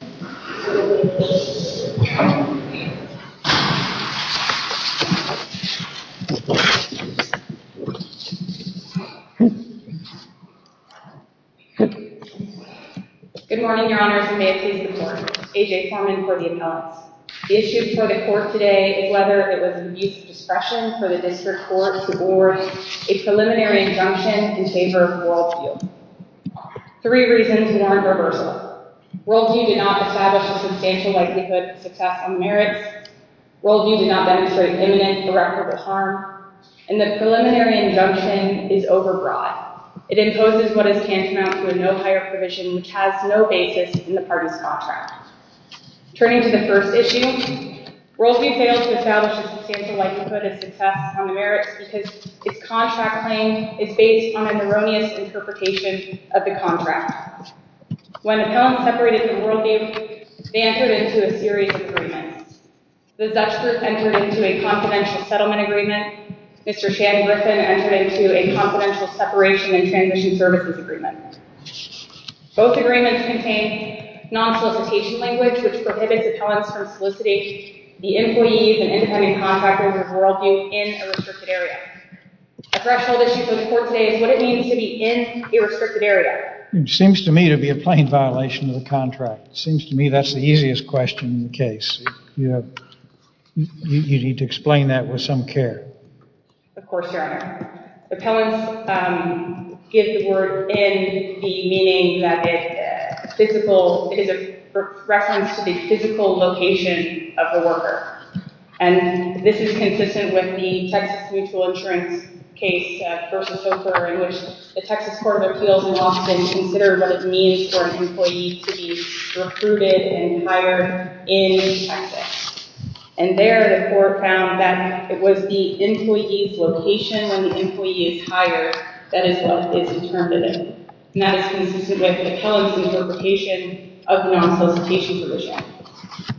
Good morning, Your Honors, and may it please the Court, A.J. Plowman for the appellate. The issue before the Court today is whether it was abuse of discretion for the District Court to award a preliminary injunction in favor of WorldVue. Three reasons warrant reversal. WorldVue did not establish a substantial likelihood of success on the merits. WorldVue did not demonstrate imminent or recordable harm. And the preliminary injunction is overbroad. It imposes what is tantamount to a no-hire provision, which has no basis in the parties' contract. Turning to the first issue, WorldVue failed to establish a substantial likelihood of success on the merits because its contract claim is based on an erroneous interpretation of the contract. When appellants separated with WorldVue, they entered into a series of agreements. The Dutch group entered into a confidential settlement agreement. Mr. Shannon Griffin entered into a confidential separation and transition services agreement. Both agreements contain non-solicitation language, which prohibits appellants from soliciting the employees and independent contractors of WorldVue in a restricted area. The threshold issue before the Court today is what it means to be in a restricted area. It seems to me to be a plain violation of the contract. It seems to me that's the easiest question in the case. You need to explain that with some care. Of course, Your Honor. Appellants give the word in the meaning that it is a reference to the physical location of the worker. This is consistent with the Texas Mutual Insurance case versus Hooper, in which the Texas Court of Appeals would often consider what it means for an employee to be recruited and hired in Texas. There, the Court found that it was the employee's location when the employee is hired that is what is interpreted. That is consistent with the appellant's interpretation of non-solicitation provision.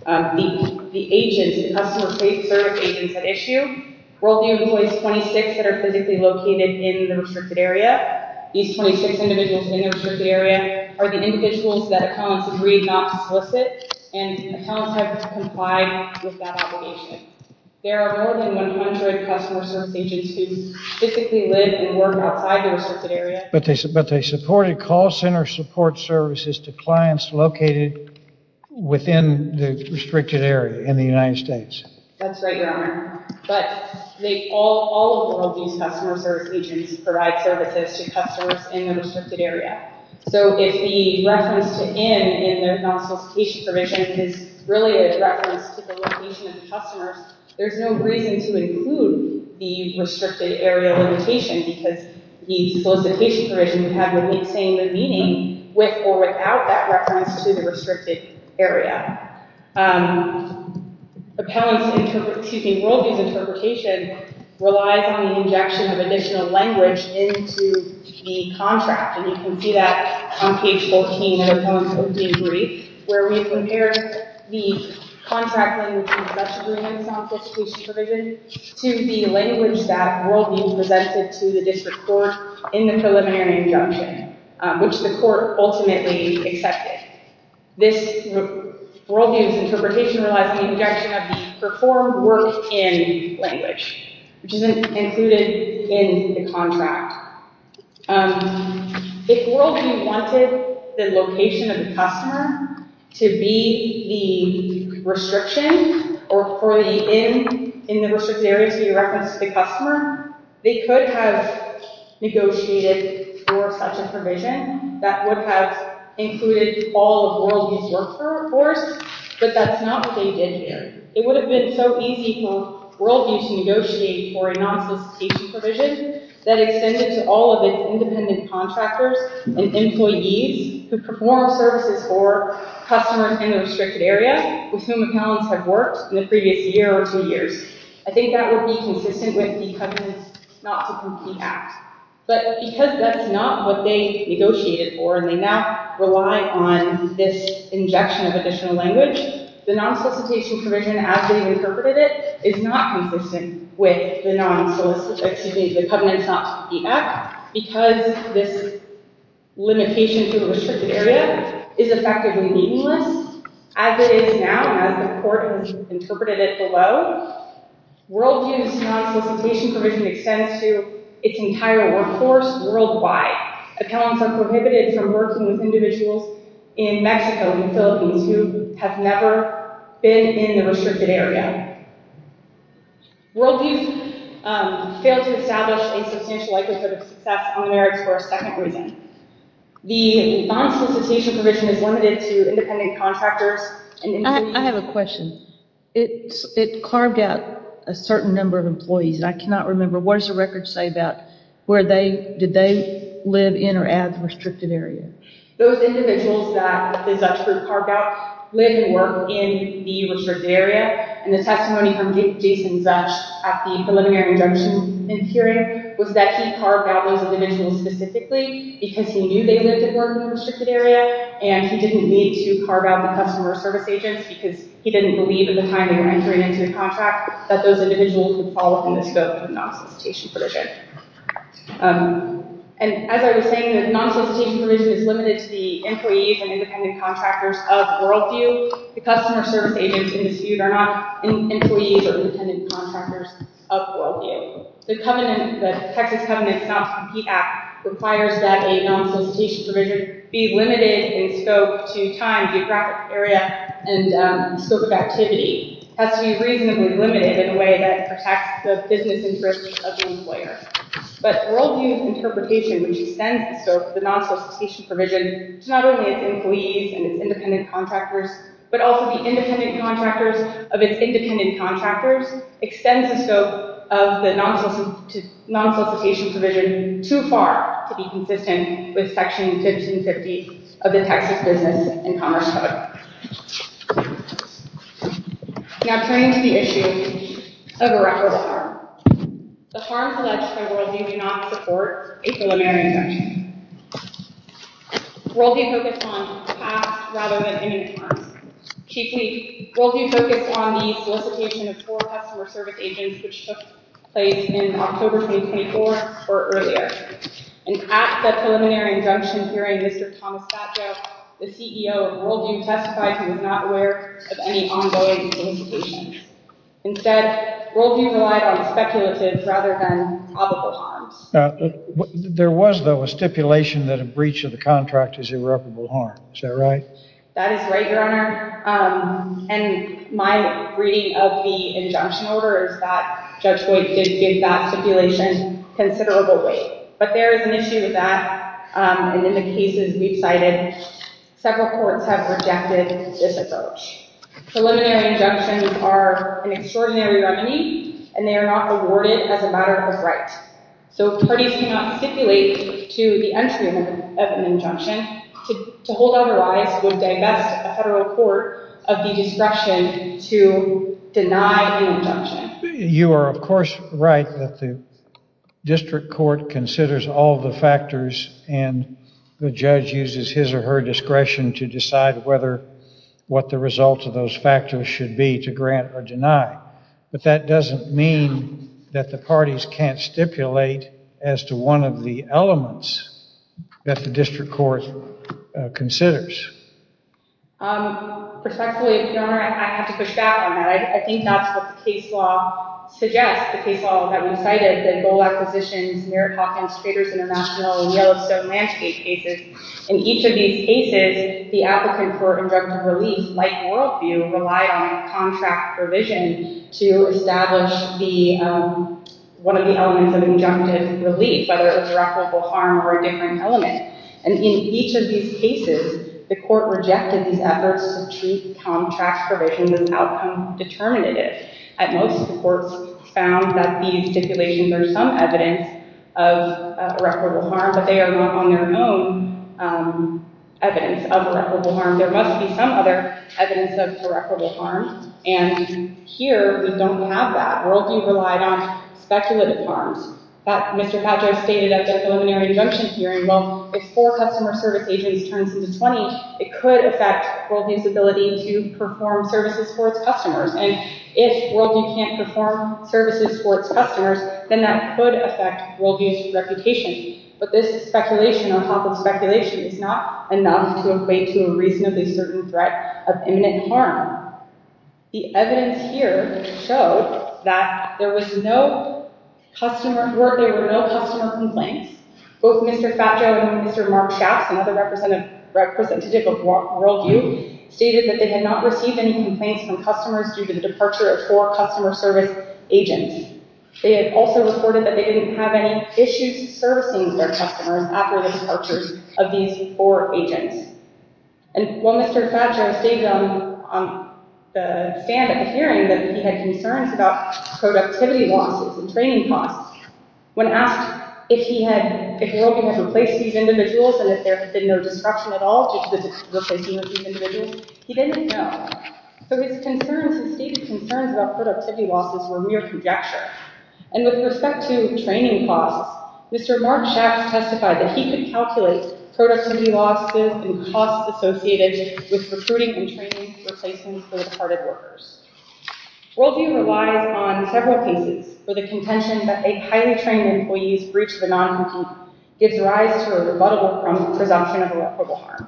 The agents, the customer service agents at issue, WorldVue employs 26 that are physically located in the restricted area. These 26 individuals in the restricted area are the individuals that appellants agreed not to solicit, and appellants have complied with that obligation. There are more than 100 customer service agents who physically live and work outside the restricted area. But they supported call center support services to clients located within the restricted area in the United States. That's right, Your Honor. But all of WorldVue's customer service agents provide services to customers in the restricted area. So if the reference to in in their non-solicitation provision is really a reference to the location of the customers, there's no reason to include the restricted area limitation because the solicitation provision would have the same meaning with or without that reference to the restricted area. WorldVue's interpretation relies on the injection of additional language into the contract. And you can see that on page 14 of the appellant's opening brief, where we compare the contract language in the Dutch agreement non-solicitation provision to the language that WorldVue presented to the district court in the preliminary injunction, which the court ultimately accepted. WorldVue's interpretation relies on the injection of performed work in language, which is included in the contract. If WorldVue wanted the location of the customer to be the restriction or for the in in the restricted area to be a reference to the customer, they could have negotiated for such a provision that would have included all of WorldVue's workforce. But that's not what they did here. It would have been so easy for WorldVue to negotiate for a non-solicitation provision that extended to all of its independent contractors and employees who perform services for customers in the restricted area with whom appellants have worked in the previous year or two years. I think that would be consistent with the company's not-to-compete act. But because that's not what they negotiated for and they now rely on this injection of additional language, the non-solicitation provision as they interpreted it is not consistent with the company's not-to-compete act because this limitation to the restricted area is effectively meaningless as it is now as the court interpreted it below. WorldVue's non-solicitation provision extends to its entire workforce worldwide. Appellants are prohibited from working with individuals in Mexico and the Philippines who have never been in the restricted area. WorldVue failed to establish a substantial likelihood of success on the merits for a second reason. The non-solicitation provision is limited to independent contractors. I have a question. It carved out a certain number of employees and I cannot remember. What does the record say about did they live in or at the restricted area? Those individuals that the Zuch group carved out lived and worked in the restricted area. And the testimony from Jason Zuch at the preliminary injunction hearing was that he carved out those individuals specifically because he knew they lived and worked in the restricted area and he didn't need to carve out the customer service agents because he didn't believe at the time they were entering into the contract that those individuals would fall within the scope of the non-solicitation provision. And as I was saying, the non-solicitation provision is limited to the employees and independent contractors of WorldVue. The customer service agents in dispute are not employees or independent contractors of WorldVue. The Texas Covenant's not-to-compete act requires that a non-solicitation provision be limited in scope to time, geographic area, and scope of activity. It has to be reasonably limited in a way that protects the business interest of the employer. But WorldVue's interpretation, which extends the scope of the non-solicitation provision to not only its employees and its independent contractors, but also the independent contractors of its independent contractors, extends the scope of the non-solicitation provision too far to be consistent with Section 1550 of the Texas Business and Commerce Code. Now turning to the issue of a reckless harm. The harms alleged by WorldVue do not support a preliminary injunction. WorldVue focused on past rather than imminent harms. Chief, WorldVue focused on the solicitation of four customer service agents, which took place in October 2024 or earlier. And at the preliminary injunction hearing, Mr. Thomas Satcho, the CEO of WorldVue, testified he was not aware of any ongoing solicitations. Instead, WorldVue relied on speculatives rather than probable harms. There was, though, a stipulation that a breach of the contract is irreparable harm. Is that right? That is right, Your Honor. And my reading of the injunction order is that Judge Boyd did give that stipulation considerable weight. But there is an issue with that, and in the cases we've cited, several courts have rejected this approach. Preliminary injunctions are an extraordinary remedy, and they are not awarded as a matter of right. So if parties cannot stipulate to the entry of an injunction, to hold otherwise would divest a federal court of the discretion to deny an injunction. You are, of course, right that the district court considers all the factors, and the judge uses his or her discretion to decide what the result of those factors should be to grant or deny. But that doesn't mean that the parties can't stipulate as to one of the elements that the district court considers. Perspectively, Your Honor, I'd have to push back on that. I think that's what the case law suggests. The case law that we cited, the Bull Acquisitions, Merritt Hawkins, Traders International, and Yellowstone Landscape cases, in each of these cases, the applicant for injunctive relief, like worldview, relied on a contract provision to establish one of the elements of injunctive relief, whether it was irreparable harm or a different element. And in each of these cases, the court rejected these efforts to treat contract provisions as outcome determinative. At most, the courts found that these stipulations are some evidence of irreparable harm, but they are not on their own evidence of irreparable harm. There must be some other evidence of irreparable harm, and here, we don't have that. Worldview relied on speculative harms. Mr. Padre stated at the preliminary injunction hearing, well, if four customer service agents turns into 20, it could affect worldview's ability to perform services for its customers. And if worldview can't perform services for its customers, then that could affect worldview's reputation. But this speculation on top of speculation is not enough to equate to a reasonably certain threat of imminent harm. The evidence here showed that there were no customer complaints. Both Mr. Faggio and Mr. Mark Schatz, another representative of worldview, stated that they had not received any complaints from customers due to the departure of four customer service agents. They had also reported that they didn't have any issues servicing their customers after the departure of these four agents. And while Mr. Faggio stated on the stand at the hearing that he had concerns about productivity losses and training costs, when asked if worldview had replaced these individuals and if there had been no disruption at all due to the replacing of these individuals, he didn't know. So his concerns, his stated concerns about productivity losses were mere conjecture. And with respect to training costs, Mr. Mark Schatz testified that he could calculate productivity losses and costs associated with recruiting and training, replacing third-party workers. Worldview relies on several cases for the contention that a highly trained employee's breach of the non-compete gives rise to a rebuttable presumption of irreparable harm.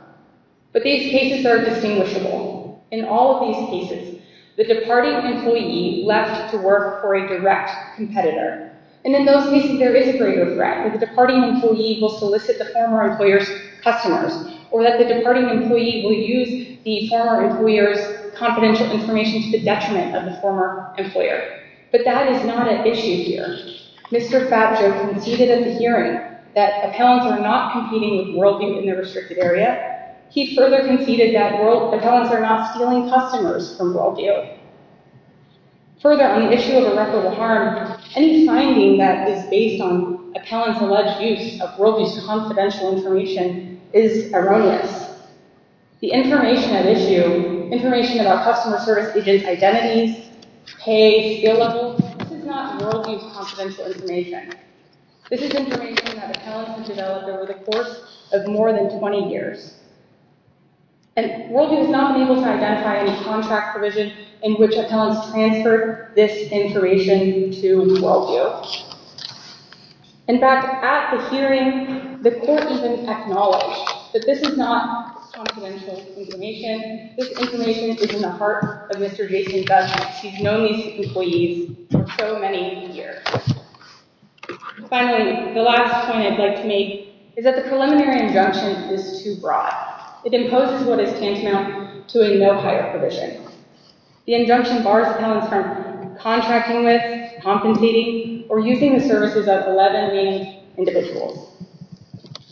But these cases are distinguishable. In all of these cases, the departing employee left to work for a direct competitor. And in those cases, there is a greater threat that the departing employee will solicit the former employer's customers, or that the departing employee will use the former employer's confidential information to the detriment of the former employer. But that is not an issue here. Mr. Faggio conceded at the hearing that appellants are not competing with worldview in the restricted area. He further conceded that appellants are not stealing customers from worldview. Further, on the issue of irreparable harm, any finding that is based on appellants' alleged use of worldview's confidential information is erroneous. The information at issue, information about customer service agent identities, pay, skill level, this is not worldview's confidential information. This is information that appellants have developed over the course of more than 20 years. And worldview has not been able to identify any contract provision in which appellants transferred this information to worldview. In fact, at the hearing, the court has acknowledged that this is not confidential information. This information is in the heart of Mr. Jason Faggio. He's known these employees for so many years. Finally, the last point I'd like to make is that the preliminary injunction is too broad. It imposes what is tantamount to a no-hire provision. The injunction bars appellants from contracting with, compensating, or using the services of 11 named individuals.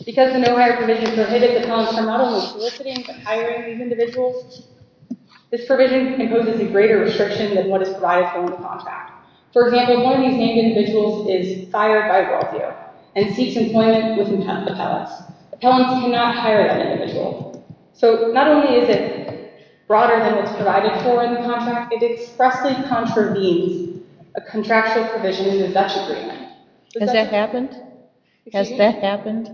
Because the no-hire provision prohibits appellants from not only soliciting, but hiring these individuals, this provision imposes a greater restriction than what is provided for in the contract. For example, one of these named individuals is fired by worldview and seeks employment with an appellant. Appellants cannot hire that individual. So not only is it broader than what's provided for in the contract, it expressly contravenes a contractual provision in the Dutch agreement. Has that happened? Has that happened?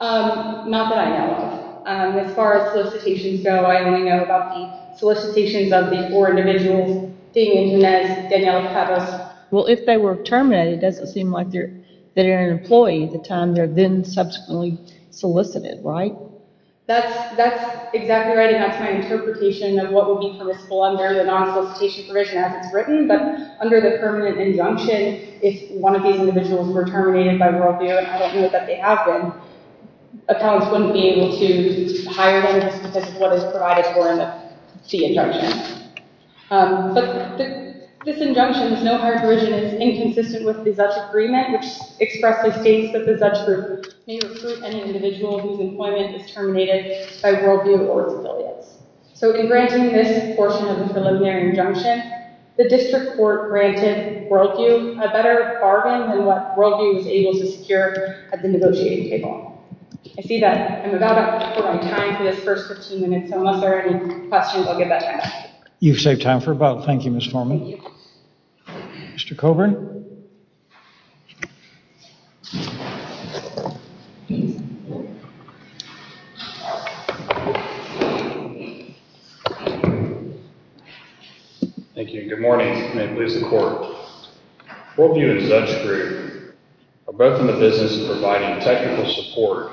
Not that I know of. As far as solicitations go, I only know about the solicitations of the four individuals, Damian Junez, Daniela Cabos. Well, if they were terminated, it doesn't seem like they're an employee at the time they're then subsequently solicited, right? That's exactly right, and that's my interpretation of what would be permissible under the non-solicitation provision as it's written. But under the permanent injunction, if one of these individuals were terminated by worldview, and I don't know that they have been, appellants wouldn't be able to hire them just because of what is provided for in the injunction. But this injunction, this no-hire provision, is inconsistent with the Dutch agreement, which expressly states that the Dutch group may recruit an individual whose employment is terminated by worldview or its affiliates. So in granting this portion of the preliminary injunction, the district court granted worldview a better bargain than what worldview was able to secure at the negotiating table. I see that I'm about out of time for this first 15 minutes, so unless there are any questions, I'll give that time back. You've saved time for about. Thank you, Ms. Forman. Thank you. Mr. Coburn? Thank you, and good morning. May it please the court. Worldview and the Dutch group are both in the business of providing technical support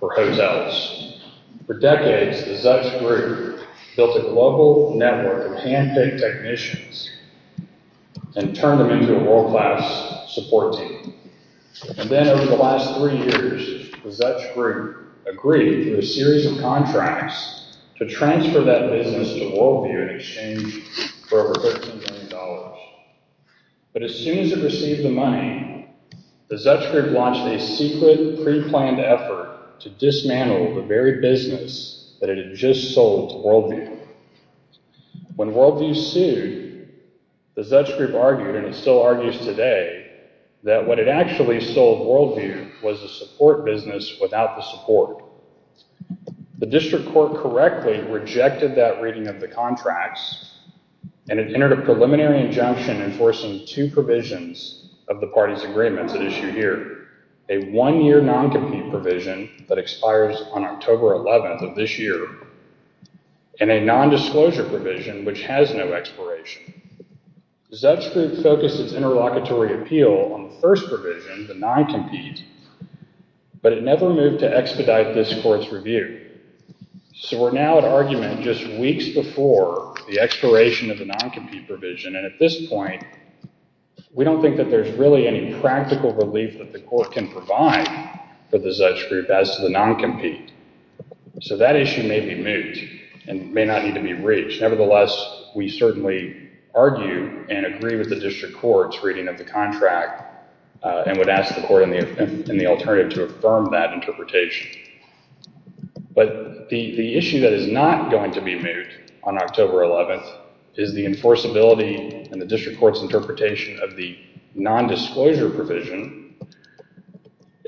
for hotels. For decades, the Dutch group built a global network of hand-picked technicians and turned them into a world-class support team. And then over the last three years, the Dutch group agreed to a series of contracts to transfer that business to Worldview in exchange for over $15 million. But as soon as it received the money, the Dutch group launched a secret, pre-planned effort to dismantle the very business that it had just sold to Worldview. When Worldview sued, the Dutch group argued, and it still argues today, that what it actually sold Worldview was a support business without the support. The district court correctly rejected that reading of the contracts, and it entered a preliminary injunction enforcing two provisions of the party's agreements at issue here. A one-year non-compete provision that expires on October 11th of this year, and a non-disclosure provision which has no expiration. The Dutch group focused its interlocutory appeal on the first provision, the non-compete, but it never moved to expedite this court's review. So we're now at argument just weeks before the expiration of the non-compete provision, and at this point, we don't think that there's really any practical relief that the court can provide for the Dutch group as to the non-compete. So that issue may be moot, and may not need to be reached. Nevertheless, we certainly argue and agree with the district court's reading of the contract, and would ask the court in the alternative to affirm that interpretation. But the issue that is not going to be moot on October 11th is the enforceability and the district court's interpretation of the non-disclosure provision,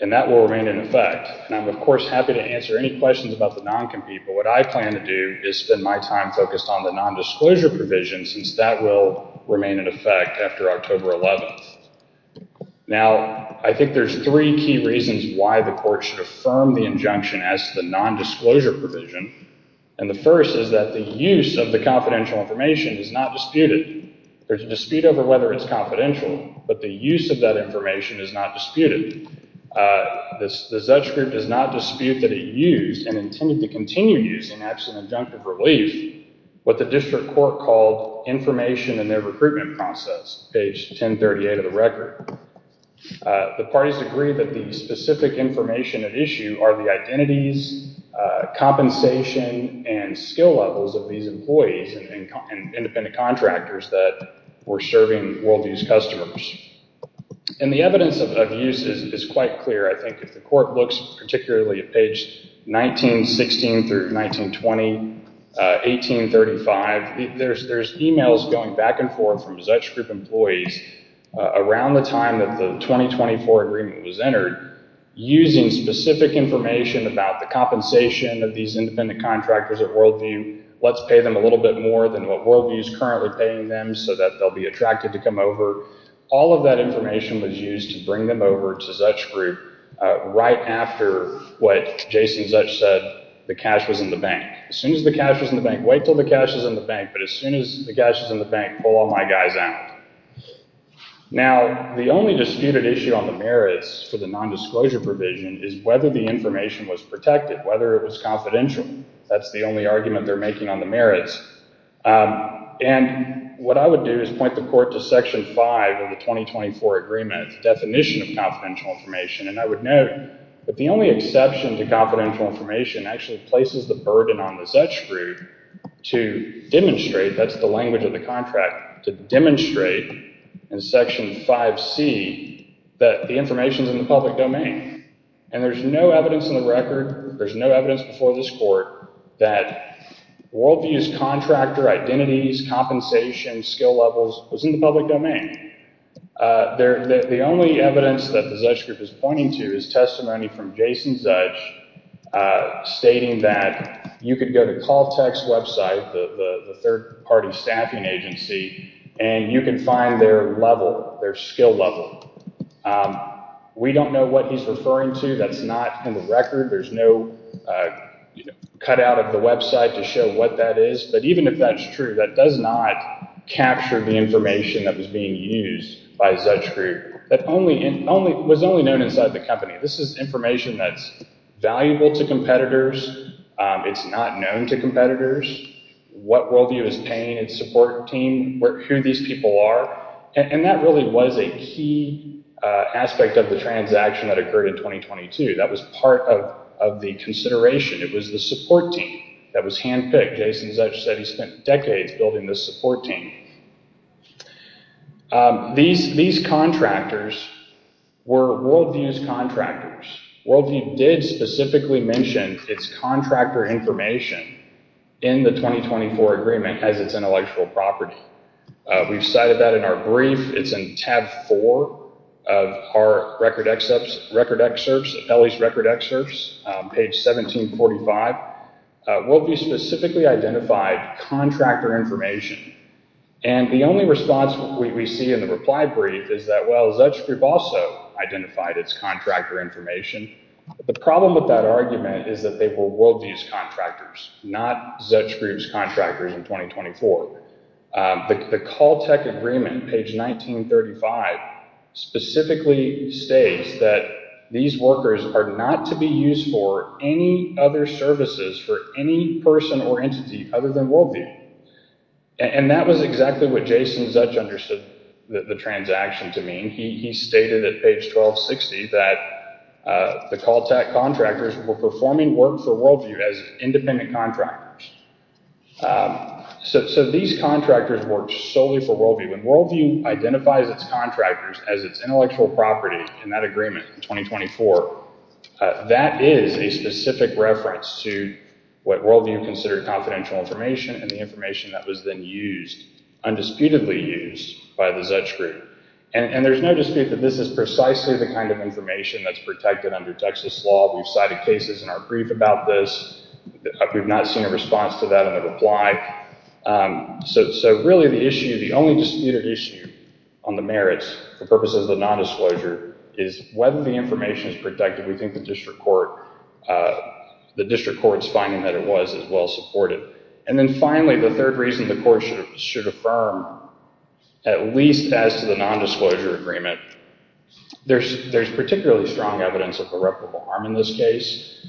and that will remain in effect. And I'm, of course, happy to answer any questions about the non-compete, but what I plan to do is spend my time focused on the non-disclosure provision, since that will remain in effect after October 11th. Now, I think there's three key reasons why the court should affirm the injunction as to the non-disclosure provision, and the first is that the use of the confidential information is not disputed. There's a dispute over whether it's confidential, but the use of that information is not disputed. The Dutch group does not dispute that it used, and intended to continue using after an adjunctive relief, what the district court called information in their recruitment process, page 1038 of the record. The parties agree that the specific information at issue are the identities, compensation, and skill levels of these employees and independent contractors that were serving Worldview's customers. And the evidence of use is quite clear. I think if the court looks particularly at page 1916 through 1920, 1835, there's emails going back and forth from Dutch group employees around the time that the 2024 agreement was entered, using specific information about the compensation of these independent contractors at Worldview, let's pay them a little bit more than what Worldview's currently paying them so that they'll be attracted to come over. All of that information was used to bring them over to Dutch group right after what Jason Dutch said, the cash was in the bank. As soon as the cash was in the bank, wait until the cash is in the bank, but as soon as the cash is in the bank, pull all my guys out. Now, the only disputed issue on the merits for the non-disclosure provision is whether the information was protected, whether it was confidential. That's the only argument they're making on the merits. And what I would do is point the court to section five of the 2024 agreement, definition of confidential information. And I would note that the only exception to confidential information actually places the burden on the Dutch group to demonstrate, that's the language of the contract, to demonstrate in section 5C that the information is in the public domain. And there's no evidence in the record, there's no evidence before this court that Worldview's contractor identities, compensation, skill levels was in the public domain. The only evidence that the Dutch group is pointing to is testimony from Jason Dutch stating that you could go to Caltech's website, the third party staffing agency, and you can find their level, their skill level. We don't know what he's referring to. That's not in the record. There's no cut out of the website to show what that is. But even if that's true, that does not capture the information that was being used by Dutch group. That was only known inside the company. This is information that's valuable to competitors. It's not known to competitors. What Worldview is paying its support team, who these people are. And that really was a key aspect of the transaction that occurred in 2022. That was part of the consideration. It was the support team that was handpicked. Jason Dutch said he spent decades building this support team. These contractors were Worldview's contractors. Worldview did specifically mention its contractor information in the 2024 agreement as its intellectual property. We've cited that in our brief. It's in tab four of our record excerpts, Apelli's record excerpts, page 1745. Worldview specifically identified contractor information. And the only response we see in the reply brief is that, well, Dutch group also identified its contractor information. The problem with that argument is that they were Worldview's contractors, not Dutch group's contractors in 2024. The Caltech agreement, page 1935, specifically states that these workers are not to be used for any other services for any person or entity other than Worldview. And that was exactly what Jason Dutch understood the transaction to mean. He stated at page 1260 that the Caltech contractors were performing work for Worldview as independent contractors. So these contractors worked solely for Worldview. When Worldview identifies its contractors as its intellectual property in that agreement in 2024, that is a specific reference to what Worldview considered confidential information and the information that was then used, undisputedly used, by the Dutch group. And there's no dispute that this is precisely the kind of information that's protected under Texas law. We've cited cases in our brief about this. We've not seen a response to that in the reply. So really the issue, the only disputed issue on the merits for purposes of the nondisclosure is whether the information is protected. We think the district court's finding that it was is well supported. And then finally, the third reason the court should affirm, at least as to the nondisclosure agreement, there's particularly strong evidence of irreparable harm in this case.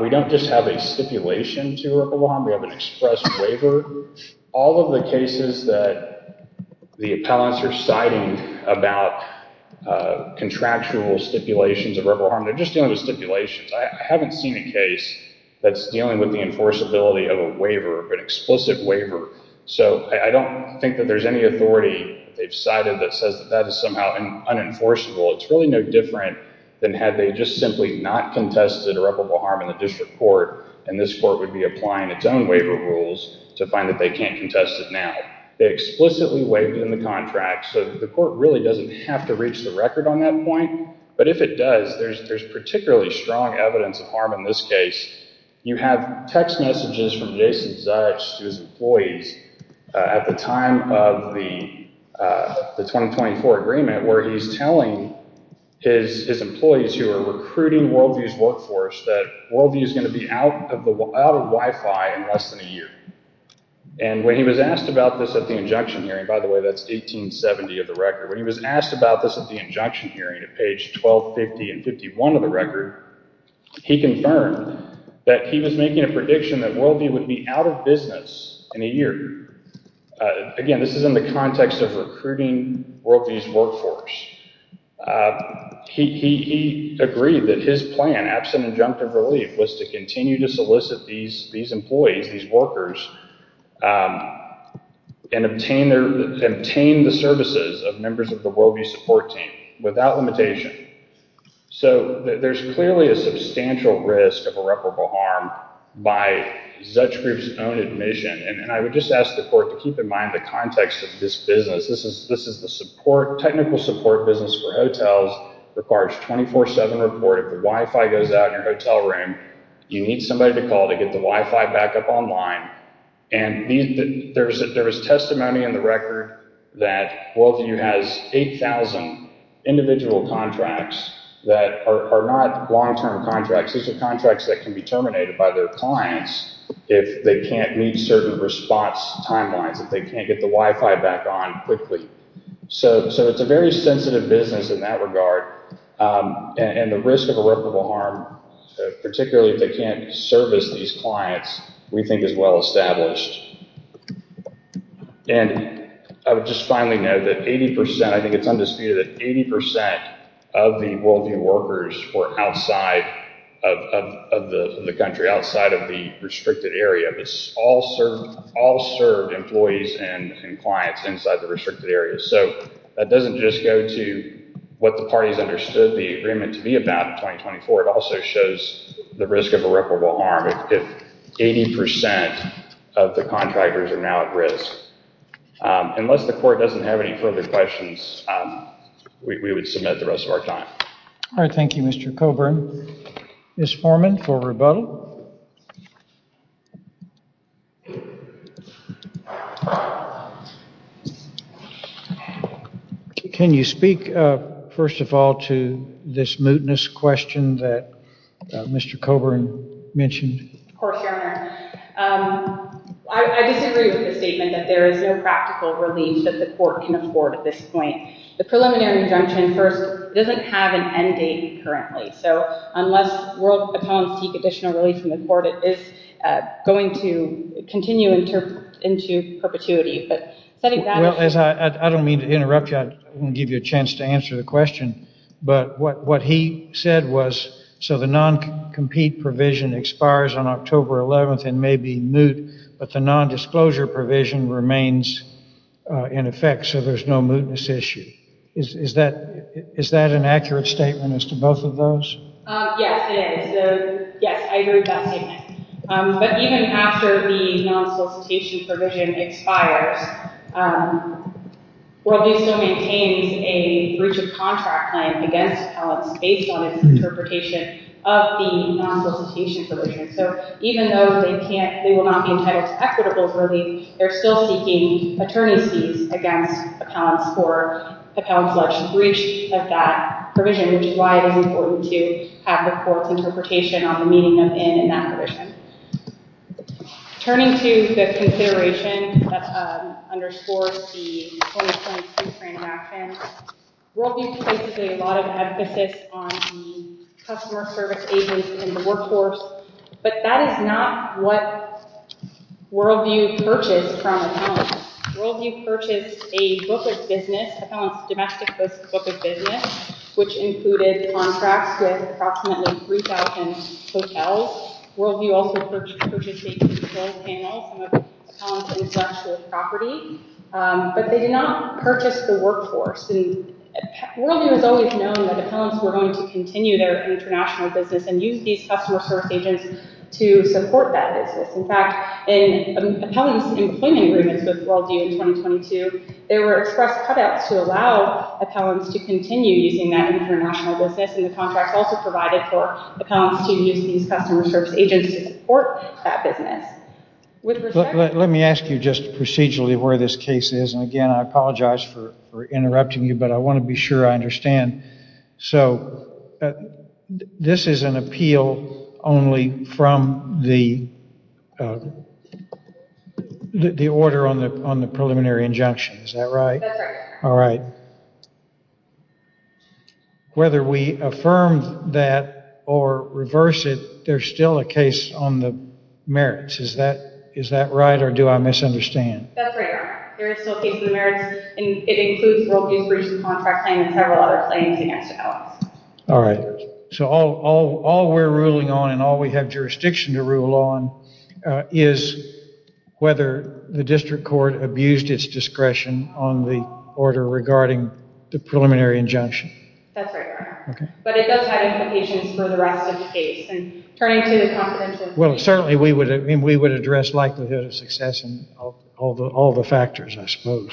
We don't just have a stipulation to irreparable harm. We have an express waiver. All of the cases that the appellants are citing about contractual stipulations of irreparable harm, they're just dealing with stipulations. I haven't seen a case that's dealing with the enforceability of a waiver, of an explicit waiver. So I don't think that there's any authority they've cited that says that that is somehow unenforceable. It's really no different than had they just simply not contested irreparable harm in the district court, and this court would be applying its own waiver rules to find that they can't contest it now. They explicitly waived it in the contract, so the court really doesn't have to reach the record on that point. But if it does, there's particularly strong evidence of harm in this case. You have text messages from Jason Zuch to his employees at the time of the 2024 agreement where he's telling his employees who are recruiting Worldview's workforce that Worldview is going to be out of Wi-Fi in less than a year. And when he was asked about this at the injunction hearing, by the way, that's 1870 of the record. When he was asked about this at the injunction hearing at page 1250 and 51 of the record, he confirmed that he was making a prediction that Worldview would be out of business in a year. Again, this is in the context of recruiting Worldview's workforce. He agreed that his plan, absent injunctive relief, was to continue to solicit these employees, these workers, and obtain the services of members of the Worldview support team without limitation. So there's clearly a substantial risk of irreparable harm by Zuch group's own admission. And I would just ask the court to keep in mind the context of this business. This is the support—technical support business for hotels requires 24-7 report. If the Wi-Fi goes out in your hotel room, you need somebody to call to get the Wi-Fi back up online. And there is testimony in the record that Worldview has 8,000 individual contracts that are not long-term contracts. These are contracts that can be terminated by their clients if they can't meet certain response timelines, if they can't get the Wi-Fi back on quickly. So it's a very sensitive business in that regard. And the risk of irreparable harm, particularly if they can't service these clients, we think is well established. And I would just finally note that 80 percent—I think it's undisputed that 80 percent of the Worldview workers were outside of the country, outside of the restricted area. But all served employees and clients inside the restricted area. So that doesn't just go to what the parties understood the agreement to be about in 2024. It also shows the risk of irreparable harm if 80 percent of the contractors are now at risk. Unless the court doesn't have any further questions, we would submit the rest of our time. All right. Thank you, Mr. Coburn. Ms. Foreman for rebuttal. Can you speak, first of all, to this mootness question that Mr. Coburn mentioned? Of course, Your Honor. I disagree with the statement that there is no practical relief that the court can afford at this point. The preliminary injunction first doesn't have an end date currently. So unless World Accountants seek additional relief from the court, it is going to continue into perpetuity. I don't mean to interrupt you. I didn't give you a chance to answer the question. But what he said was, so the non-compete provision expires on October 11th and may be moot. But the non-disclosure provision remains in effect, so there's no mootness issue. Is that an accurate statement as to both of those? Yes, it is. Yes, I agree with that statement. But even after the non-solicitation provision expires, World Bistro maintains a breach of contract claim against accountants based on its interpretation of the non-solicitation provision. So even though they will not be entitled to equitable relief, they're still seeking attorney's fees against accountants for accountants' alleged breach of that provision, which is why it is important to have the court's interpretation on the meaning of in in that provision. Turning to the consideration that underscores the 2022 transaction, World Bistro places a lot of emphasis on the customer service agents in the workforce. But that is not what Worldview purchased from accountants. Worldview purchased a book of business, accountants' domestic list book of business, which included contracts with approximately 3,000 hotels. Worldview also purchased a control panel, some of accountants' intellectual property. But they did not purchase the workforce. Worldview has always known that accountants were going to continue their international business and use these customer service agents to support that business. In fact, in accountants' employment agreements with Worldview in 2022, there were express cutouts to allow accountants to continue using that international business, and the contracts also provided for accountants to use these customer service agents to support that business. Let me ask you just procedurally where this case is. Again, I apologize for interrupting you, but I want to be sure I understand. This is an appeal only from the order on the preliminary injunction, is that right? That's right. Whether we affirm that or reverse it, there's still a case on the merits. Is that right or do I misunderstand? That's right, Your Honor. There is still a case on the merits, and it includes Worldview's recent contract claim and several other claims against Ellis. All right. So all we're ruling on and all we have jurisdiction to rule on is whether the district court abused its discretion on the order regarding the preliminary injunction. That's right, Your Honor. But it does have implications for the rest of the case. Well, certainly we would address likelihood of success in all the factors, I suppose.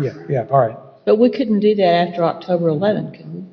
Yeah, all right. But we couldn't do that after October 11, could we?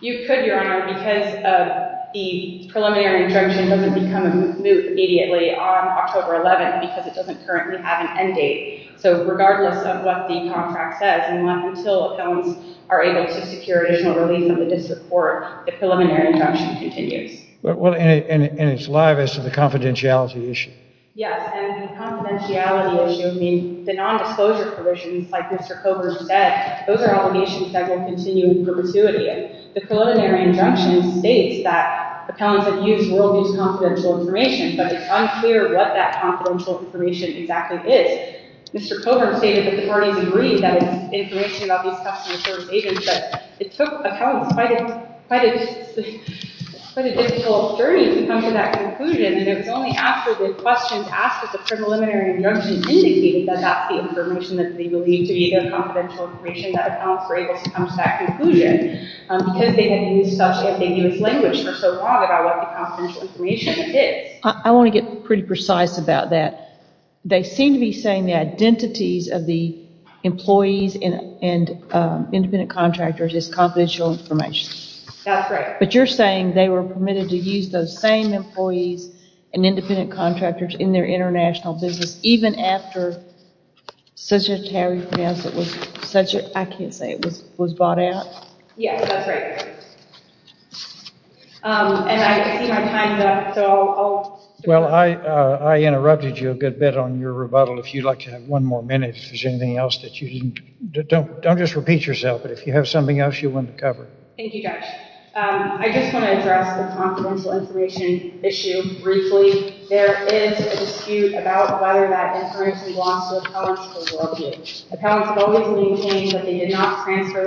You could, Your Honor, because the preliminary injunction doesn't become a moot immediately on October 11 because it doesn't currently have an end date. So regardless of what the contract says, until accountants are able to secure additional relief on the district court, the preliminary injunction continues. Well, and it's live as to the confidentiality issue. Yes, and the confidentiality issue, I mean, the nondisclosure provisions, like Mr. Coburn said, those are obligations that will continue in perpetuity. The preliminary injunction states that accountants have used Worldview's confidential information, but it's unclear what that confidential information exactly is. Mr. Coburn stated that the parties agreed that it's information about these custom insurance agents, but it took accountants quite a difficult journey to come to that conclusion, and it was only after the questions asked at the preliminary injunction indicated that that's the information that they believed to be their confidential information that accountants were able to come to that conclusion because they had used such ambiguous language for so long about what the confidential information is. I want to get pretty precise about that. They seem to be saying the identities of the employees and independent contractors is confidential information. That's right. But you're saying they were permitted to use those same employees and independent contractors in their international business, even after such a tariff was brought out? Yes, that's right. And I see my time's up, so I'll... Well, I interrupted you a good bit on your rebuttal. If you'd like to have one more minute, if there's anything else that you didn't... Don't just repeat yourself, but if you have something else you want to cover. Thank you, Judge. I just want to address the confidential information issue briefly. There is a dispute about whether that information belongs to accountants or Worldview. Accountants have always maintained that they did not transfer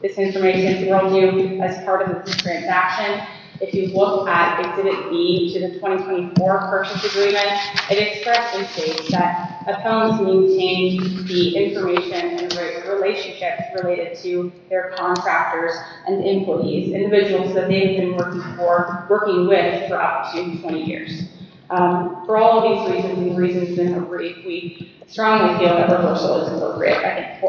this information to Worldview as part of the transaction. If you look at Exhibit B to the 2024 Purchase Agreement, it expresses that accountants maintained the information and relationships related to their contractors and employees, individuals that they've been working with for up to 20 years. For all of these reasons, we strongly feel that reversal is appropriate by the court.